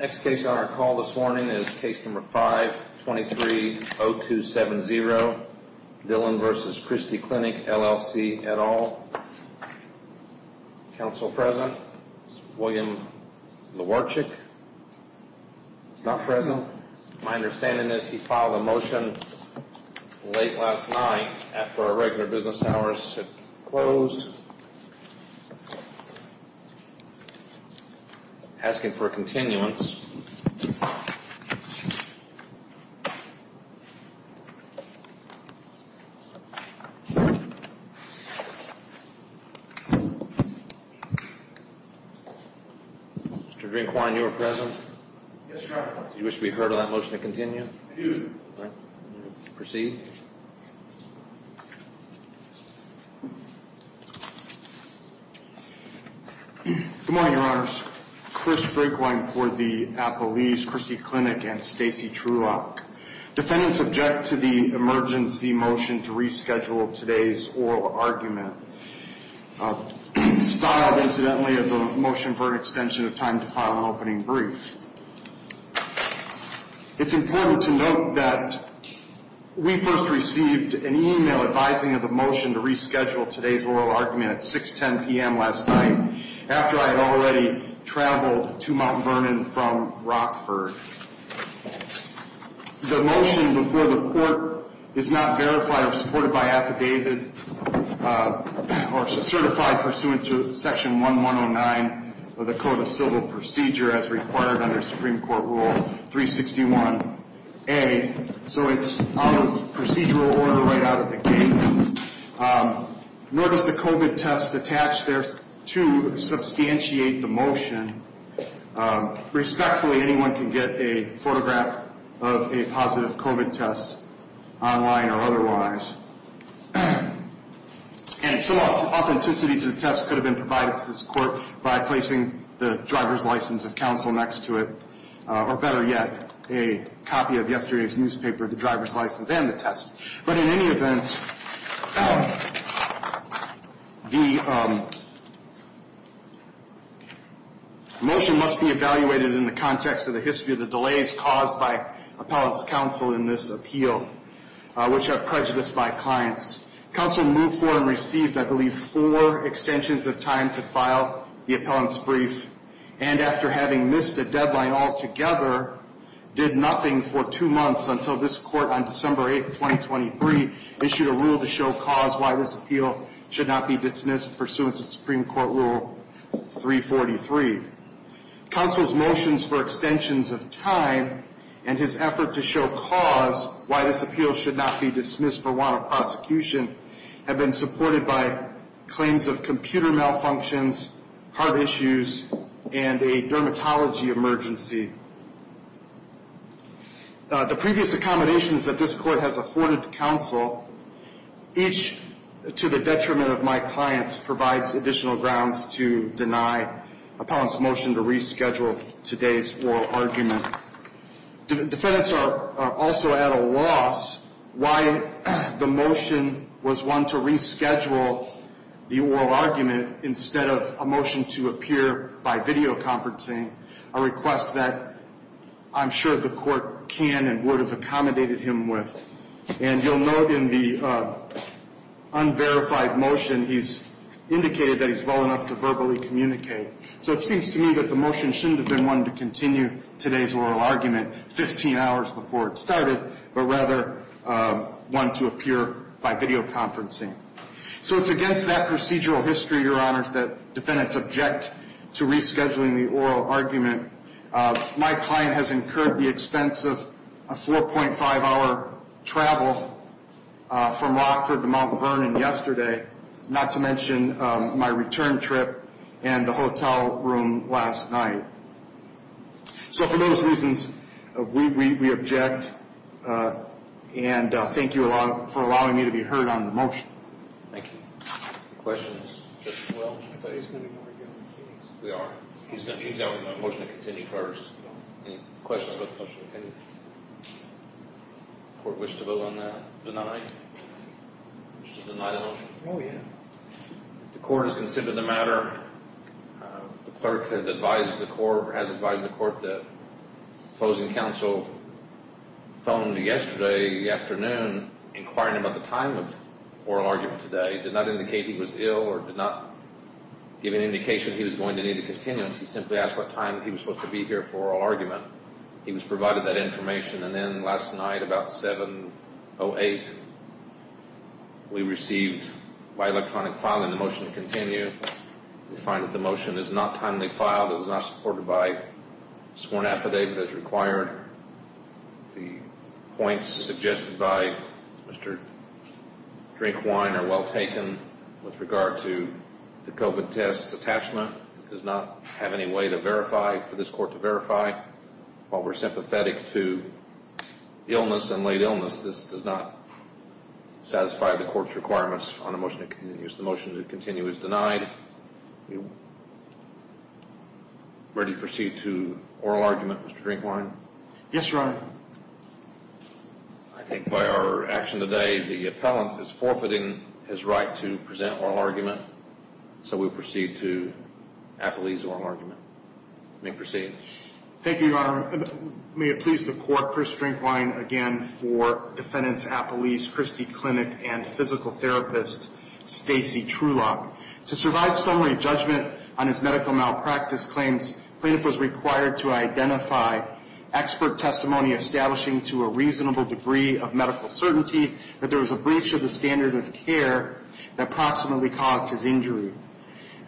Next case on our call this morning is Case No. 5-230270, Dillon v. Christie Clinic, LLC, et al. Counsel present is William Lewarchuk. He's not present. My understanding is he filed a motion late last night after our regular business hours had closed. Asking for a continuance. Mr. Greenquine, you were present? Yes, Your Honor. You wish to be heard on that motion to continue? I do. Proceed. Good morning, Your Honors. Chris Greenquine for the Appellees, Christie Clinic, and Stacey Trulock. Defendants object to the emergency motion to reschedule today's oral argument. Styled, incidentally, as a motion for an extension of time to file an opening brief. It's important to note that we first received an email advising of the motion to reschedule today's oral argument at 6.10 p.m. last night after I had already traveled to Mount Vernon from Rockford. The motion before the court is not verified or supported by affidavit or certified pursuant to Section 1109 of the Code of Civil Procedure as required under Supreme Court Rule 361A. So it's out of procedural order right out of the gate. Nor does the COVID test attached there to substantiate the motion. Respectfully, anyone can get a photograph of a positive COVID test online or otherwise. And some authenticity to the test could have been provided to this court by placing the driver's license of counsel next to it, or better yet, a copy of yesterday's newspaper, the driver's license, and the test. But in any event, the motion must be evaluated in the context of the history of the delays caused by appellant's counsel in this appeal, which are prejudiced by clients. Counsel moved for and received, I believe, four extensions of time to file the appellant's brief, and after having missed a deadline altogether, did nothing for two months until this court on December 8, 2023, issued a rule to show cause why this appeal should not be dismissed pursuant to Supreme Court Rule 343. Counsel's motions for extensions of time and his effort to show cause why this appeal should not be dismissed for want of prosecution have been supported by claims of computer malfunctions, heart issues, and a dermatology emergency. The previous accommodations that this court has afforded counsel, each to the detriment of my clients, provides additional grounds to deny appellant's motion to reschedule today's oral argument. Defendants are also at a loss why the motion was one to reschedule the oral argument instead of a motion to appear by videoconferencing, a request that I'm sure the court can and would have accommodated him with. And you'll note in the unverified motion, he's indicated that he's well enough to verbally communicate. So it seems to me that the motion shouldn't have been one to continue today's oral argument 15 hours before it started, but rather one to appear by videoconferencing. So it's against that procedural history, Your Honors, that defendants object to rescheduling the oral argument. My client has incurred the expense of a 4.5-hour travel from Rockford to Mount Vernon yesterday, not to mention my return trip and the hotel room last night. So for those reasons, we object, and thank you for allowing me to be heard on the motion. Thank you. Questions? We are. We have a motion to continue first. Any questions about the motion to continue? Court wish to vote on that? Deny? Oh, yeah. The court has considered the matter. The clerk has advised the court that opposing counsel phoned yesterday afternoon inquiring about the time of oral argument today, did not indicate he was ill or did not give an indication he was going to need to continue. He simply asked what time he was supposed to be here for oral argument. He was provided that information, and then last night about 7.08, we received by electronic filing the motion to continue. We find that the motion is not timely filed. It was not supported by sworn affidavit as required. The points suggested by Mr. Drinkwine are well taken. With regard to the COVID test attachment, it does not have any way to verify, for this court to verify. While we are sympathetic to illness and late illness, this does not satisfy the court's requirements on the motion to continue. The motion to continue is denied. Ready to proceed to oral argument, Mr. Drinkwine? Yes, Your Honor. I think by our action today, the appellant is forfeiting his right to present oral argument, so we proceed to Appellee's oral argument. You may proceed. Thank you, Your Honor. May it please the court, Chris Drinkwine again for Defendant's Appellee's Christie Clinic and Physical Therapist, Stacy Trulock. To survive summary judgment on his medical malpractice claims, plaintiff was required to identify expert testimony establishing to a reasonable degree of medical certainty that there was a breach of the standard of care that approximately caused his injury.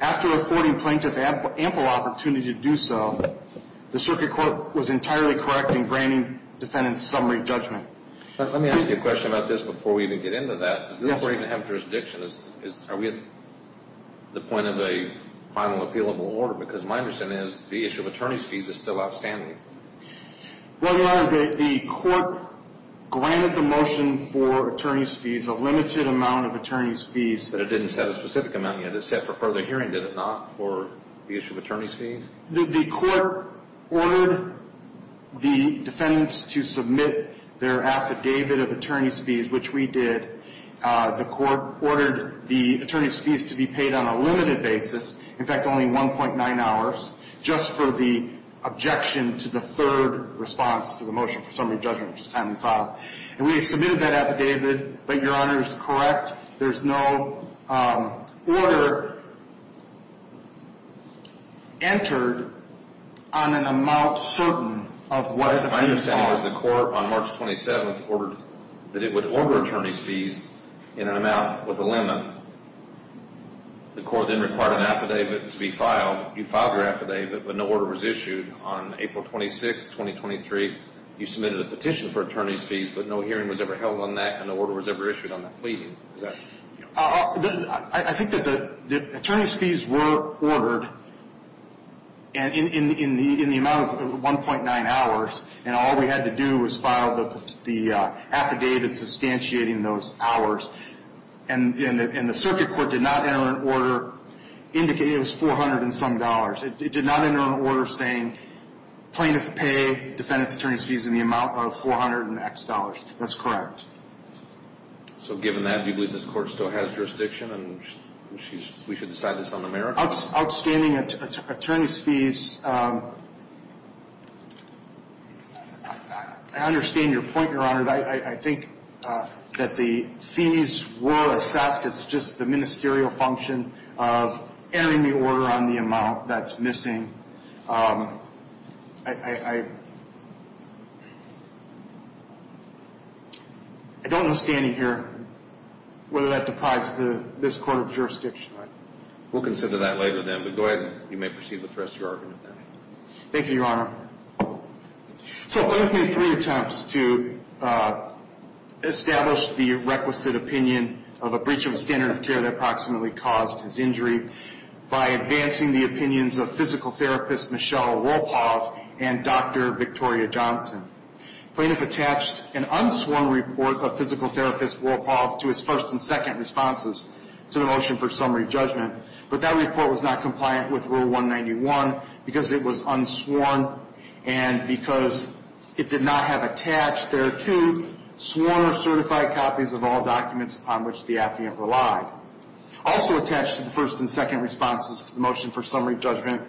After affording plaintiff ample opportunity to do so, the circuit court was entirely correct in granting defendant summary judgment. Let me ask you a question about this before we even get into that. Does this court even have jurisdiction? Are we at the point of a final appealable order? Because my understanding is the issue of attorney's fees is still outstanding. Well, Your Honor, the court granted the motion for attorney's fees, a limited amount of attorney's fees. But it didn't set a specific amount yet. It set for further hearing, did it not, for the issue of attorney's fees? The court ordered the defendants to submit their affidavit of attorney's fees, which we did. The court ordered the attorney's fees to be paid on a limited basis, in fact, only 1.9 hours, just for the objection to the third response to the motion for summary judgment, which is time and file. And we submitted that affidavit, but Your Honor is correct. There's no order entered on an amount certain of what the fees are. My understanding is the court on March 27th ordered that it would order attorney's fees in an amount with a limit. The court then required an affidavit to be filed. You filed your affidavit, but no order was issued. On April 26th, 2023, you submitted a petition for attorney's fees, but no hearing was ever held on that and no order was ever issued on that pleading. I think that the attorney's fees were ordered in the amount of 1.9 hours, and all we had to do was file the affidavit substantiating those hours. And the circuit court did not enter an order indicating it was 400 and some dollars. It did not enter an order saying plaintiff pay defendant's attorney's fees in the amount of 400 and X dollars. That's correct. So given that, do you believe this court still has jurisdiction and we should decide this on the merits? Outstanding attorney's fees, I understand your point, Your Honor. I think that the fees were assessed. It's just the ministerial function of entering the order on the amount that's missing. I don't know standing here whether that deprives this court of jurisdiction. We'll consider that later then, but go ahead. You may proceed with the rest of your argument. Thank you, Your Honor. So plaintiff made three attempts to establish the requisite opinion of a breach of standard of care that approximately caused his injury by advancing the opinions of physical therapist Michelle Wolpoff and Dr. Victoria Johnson. Plaintiff attached an unsworn report of physical therapist Wolpoff to his first and second responses to the motion for summary judgment, but that report was not compliant with Rule 191 because it was unsworn and because it did not have attached thereto sworn or certified copies of all documents upon which the affiant relied. Also attached to the first and second responses to the motion for summary judgment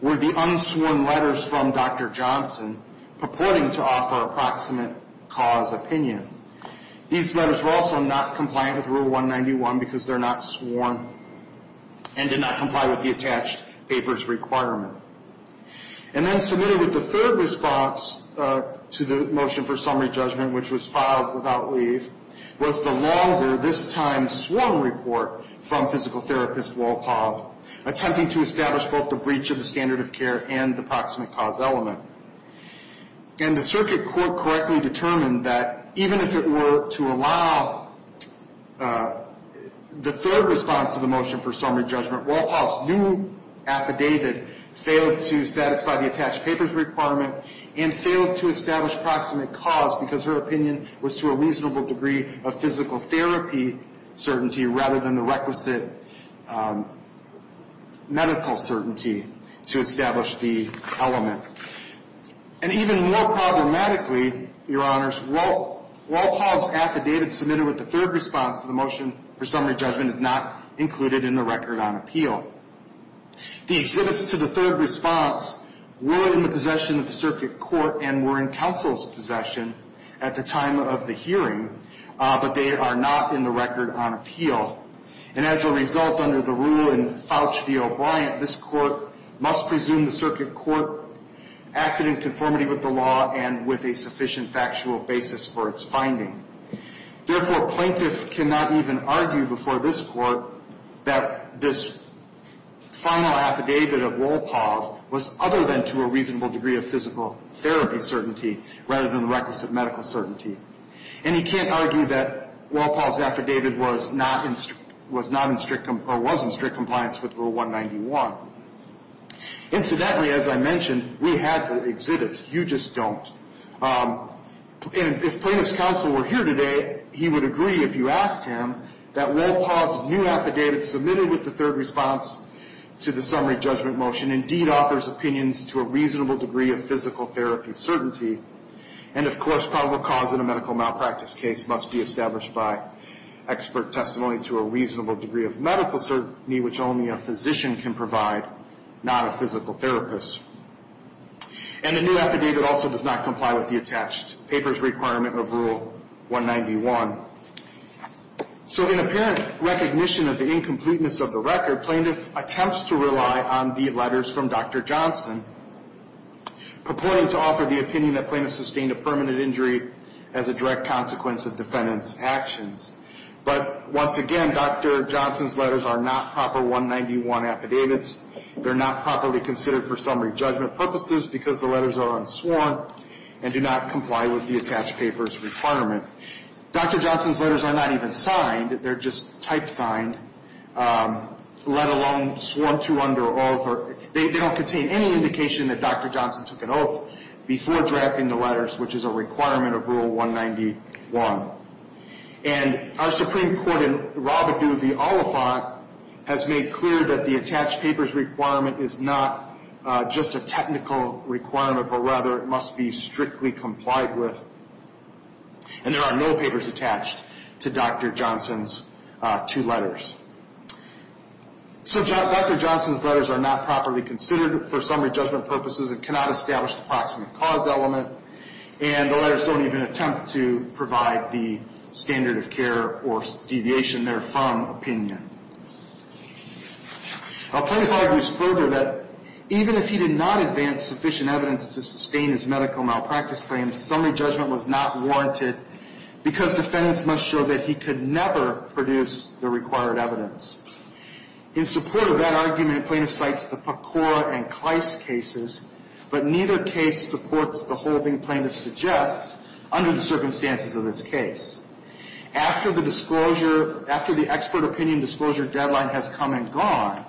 were the unsworn letters from Dr. Johnson purporting to offer approximate cause opinion. These letters were also not compliant with Rule 191 because they're not sworn and did not comply with the attached papers requirement. And then submitted with the third response to the motion for summary judgment, which was filed without leave, was the longer, this time sworn report from physical therapist Wolpoff attempting to establish both the breach of the standard of care and the approximate cause element. And the circuit court correctly determined that even if it were to allow the third response to the motion for summary judgment, Wolpoff's new affidavit failed to satisfy the attached papers requirement and failed to establish approximate cause because her opinion was to a reasonable degree of physical therapy certainty rather than the requisite medical certainty to establish the element. And even more problematically, Your Honors, Wolpoff's affidavit submitted with the third response to the motion for summary judgment is not included in the record on appeal. The exhibits to the third response were in the possession of the circuit court and were in counsel's possession at the time of the hearing, but they are not in the record on appeal. And as a result, under the rule in Fauci v. O'Brien, this court must presume the circuit court acted in conformity with the law and with a sufficient factual basis for its finding. Therefore, plaintiff cannot even argue before this court that this formal affidavit of Wolpoff was other than to a reasonable degree of physical therapy certainty rather than the requisite medical certainty. And he can't argue that Wolpoff's affidavit was not in strict or was in strict compliance with Rule 191. Incidentally, as I mentioned, we had the exhibits. You just don't. And if plaintiff's counsel were here today, he would agree, if you asked him, that Wolpoff's new affidavit submitted with the third response to the summary judgment motion indeed offers opinions to a reasonable degree of physical therapy certainty. And of course, probable cause in a medical malpractice case must be established by expert testimony to a reasonable degree of medical certainty, which only a physician can provide, not a physical therapist. And the new affidavit also does not comply with the attached papers requirement of Rule 191. So in apparent recognition of the incompleteness of the record, plaintiff attempts to rely on the letters from Dr. Johnson, purporting to offer the opinion that plaintiff sustained a permanent injury as a direct consequence of defendant's actions. But once again, Dr. Johnson's letters are not proper 191 affidavits. They're not properly considered for summary judgment purposes because the letters are unsworn and do not comply with the attached papers requirement. Dr. Johnson's letters are not even signed. They're just type signed, let alone sworn to under oath. They don't contain any indication that Dr. Johnson took an oath before drafting the letters, which is a requirement of Rule 191. And our Supreme Court in Robidoux v. Oliphant has made clear that the attached papers requirement is not just a technical requirement, but rather it must be strictly complied with. And there are no papers attached to Dr. Johnson's two letters. So Dr. Johnson's letters are not properly considered for summary judgment purposes and cannot establish the proximate cause element. And the letters don't even attempt to provide the standard of care or deviation therefrom opinion. Our plaintiff argues further that even if he did not advance sufficient evidence to sustain his medical malpractice claims, summary judgment was not warranted because defendants must show that he could never produce the required evidence. In support of that argument, plaintiff cites the Pecora and Kleist cases, but neither case supports the holding plaintiff suggests under the circumstances of this case. After the disclosure, after the expert opinion disclosure deadline has come and gone,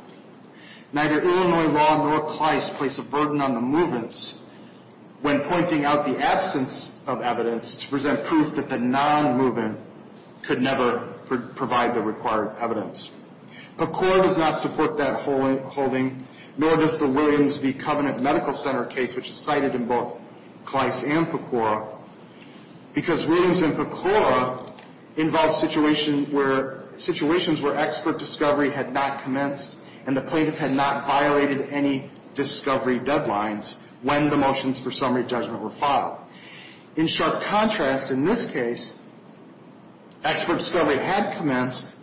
neither Illinois law nor Kleist place a burden on the move-ins when pointing out the absence of evidence to present proof that the non-move-in could never provide the required evidence. Pecora does not support that holding, nor does the Williams v. Covenant Medical Center case, which is cited in both Kleist and Pecora, because Williams and Pecora involve situations where expert discovery had not commenced and the plaintiff had not violated any discovery deadlines when the motions for summary judgment were filed. In sharp contrast, in this case, expert discovery had commenced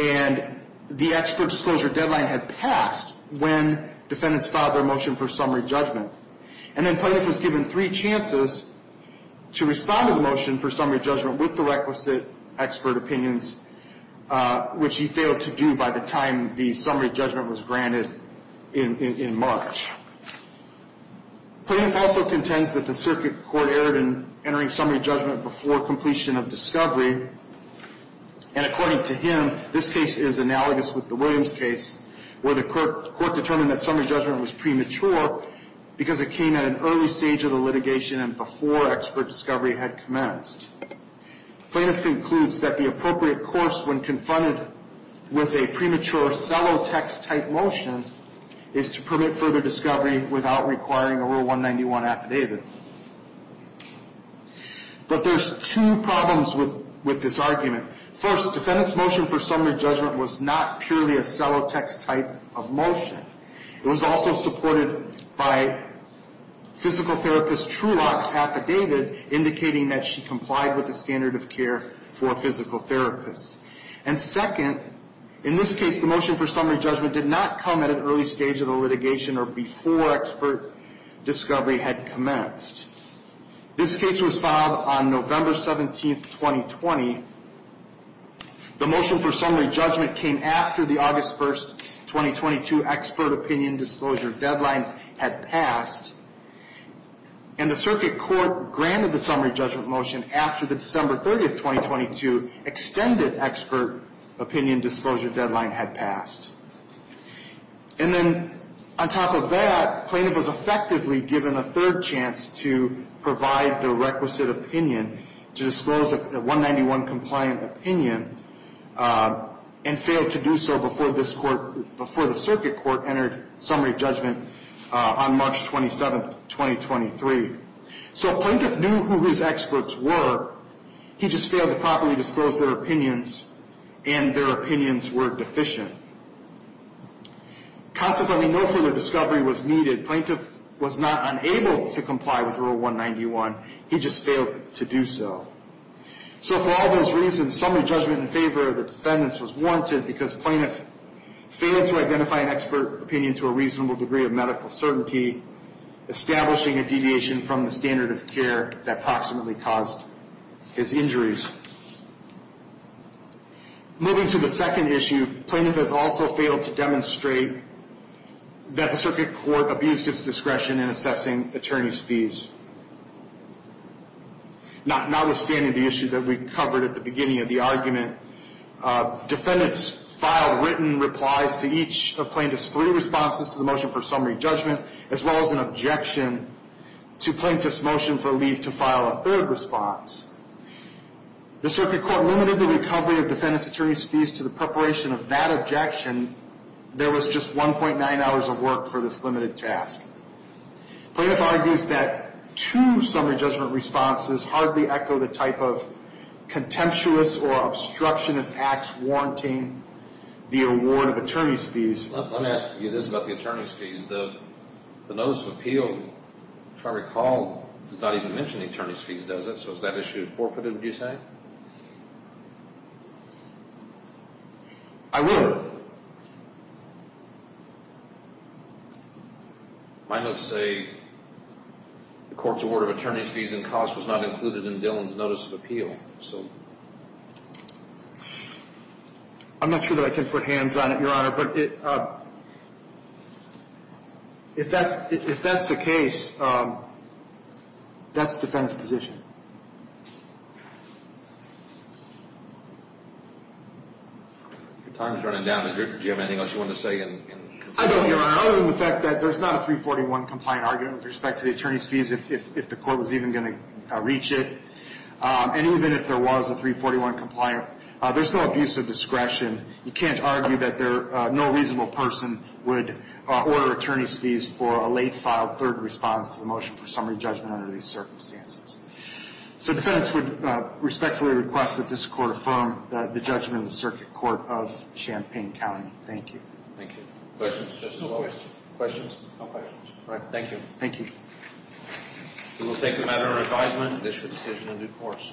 and the expert disclosure deadline had passed when defendants filed their motion for summary judgment. And then plaintiff was given three chances to respond to the motion for summary judgment with the requisite expert opinions, which he failed to do by the time the summary judgment was granted in March. Plaintiff also contends that the circuit court erred in entering summary judgment before completion of discovery. And according to him, this case is analogous with the Williams case where the court determined that summary judgment was premature because it came at an early stage of the litigation and before expert discovery had commenced. Plaintiff concludes that the appropriate course when confronted with a premature, or cellotex-type motion is to permit further discovery without requiring a Rule 191 affidavit. But there's two problems with this argument. First, defendant's motion for summary judgment was not purely a cellotex-type of motion. It was also supported by physical therapist Truelock's affidavit indicating that she complied with the standard of care for a physical therapist. And second, in this case, the motion for summary judgment did not come at an early stage of the litigation or before expert discovery had commenced. This case was filed on November 17, 2020. The motion for summary judgment came after the August 1, 2022 expert opinion disclosure deadline had passed. And the circuit court granted the summary judgment motion after the December 30, 2022 extended expert opinion disclosure deadline had passed. And then on top of that, plaintiff was effectively given a third chance to provide the requisite opinion to disclose a 191-compliant opinion and failed to do so before this court, before the circuit court entered summary judgment on March 27, 2023. So if plaintiff knew who his experts were, he just failed to properly disclose their opinions and their opinions were deficient. Consequently, no further discovery was needed. Plaintiff was not unable to comply with Rule 191. He just failed to do so. So for all those reasons, summary judgment in favor of the defendants was warranted because plaintiff failed to identify an expert opinion to a reasonable degree of medical certainty, establishing a deviation from the standard of care that approximately caused his injuries. Moving to the second issue, plaintiff has also failed to demonstrate that the circuit court abused its discretion in assessing attorneys' fees. Notwithstanding the issue that we covered at the beginning of the argument, defendants filed written replies to each of plaintiff's three responses to the motion for summary judgment as well as an objection to plaintiff's motion for leave to file a third response. The circuit court limited the recovery of defendants' attorneys' fees to the preparation of that objection. There was just $1.9 of work for this limited task. Plaintiff argues that two summary judgment responses hardly echo the type of contemptuous or obstructionist acts warranting the award of attorneys' fees. Let me ask you this about the attorneys' fees. The notice of appeal, if I recall, does not even mention the attorneys' fees, does it? So is that issue forfeited, would you say? I would. My notes say the court's award of attorneys' fees and costs was not included in Dillon's notice of appeal. I'm not sure that I can put hands on it, Your Honor, but if that's the case, that's defense position. Your time is running down. Did you have anything else you wanted to say? I don't, Your Honor, other than the fact that there's not a 341 compliant argument with respect to the attorneys' fees if the court was even going to reach it. And even if there was a 341 compliant, there's no abuse of discretion. You can't argue that no reasonable person would order attorneys' fees for a late-filed third response to the motion for summary judgment under these circumstances. So defendants would respectfully request that this Court affirm the judgment of the Circuit Court of Champaign County. Thank you. Thank you. Questions? No questions. Questions? No questions. All right. Thank you. Thank you. We will take the matter under advisement and issue a decision in due course.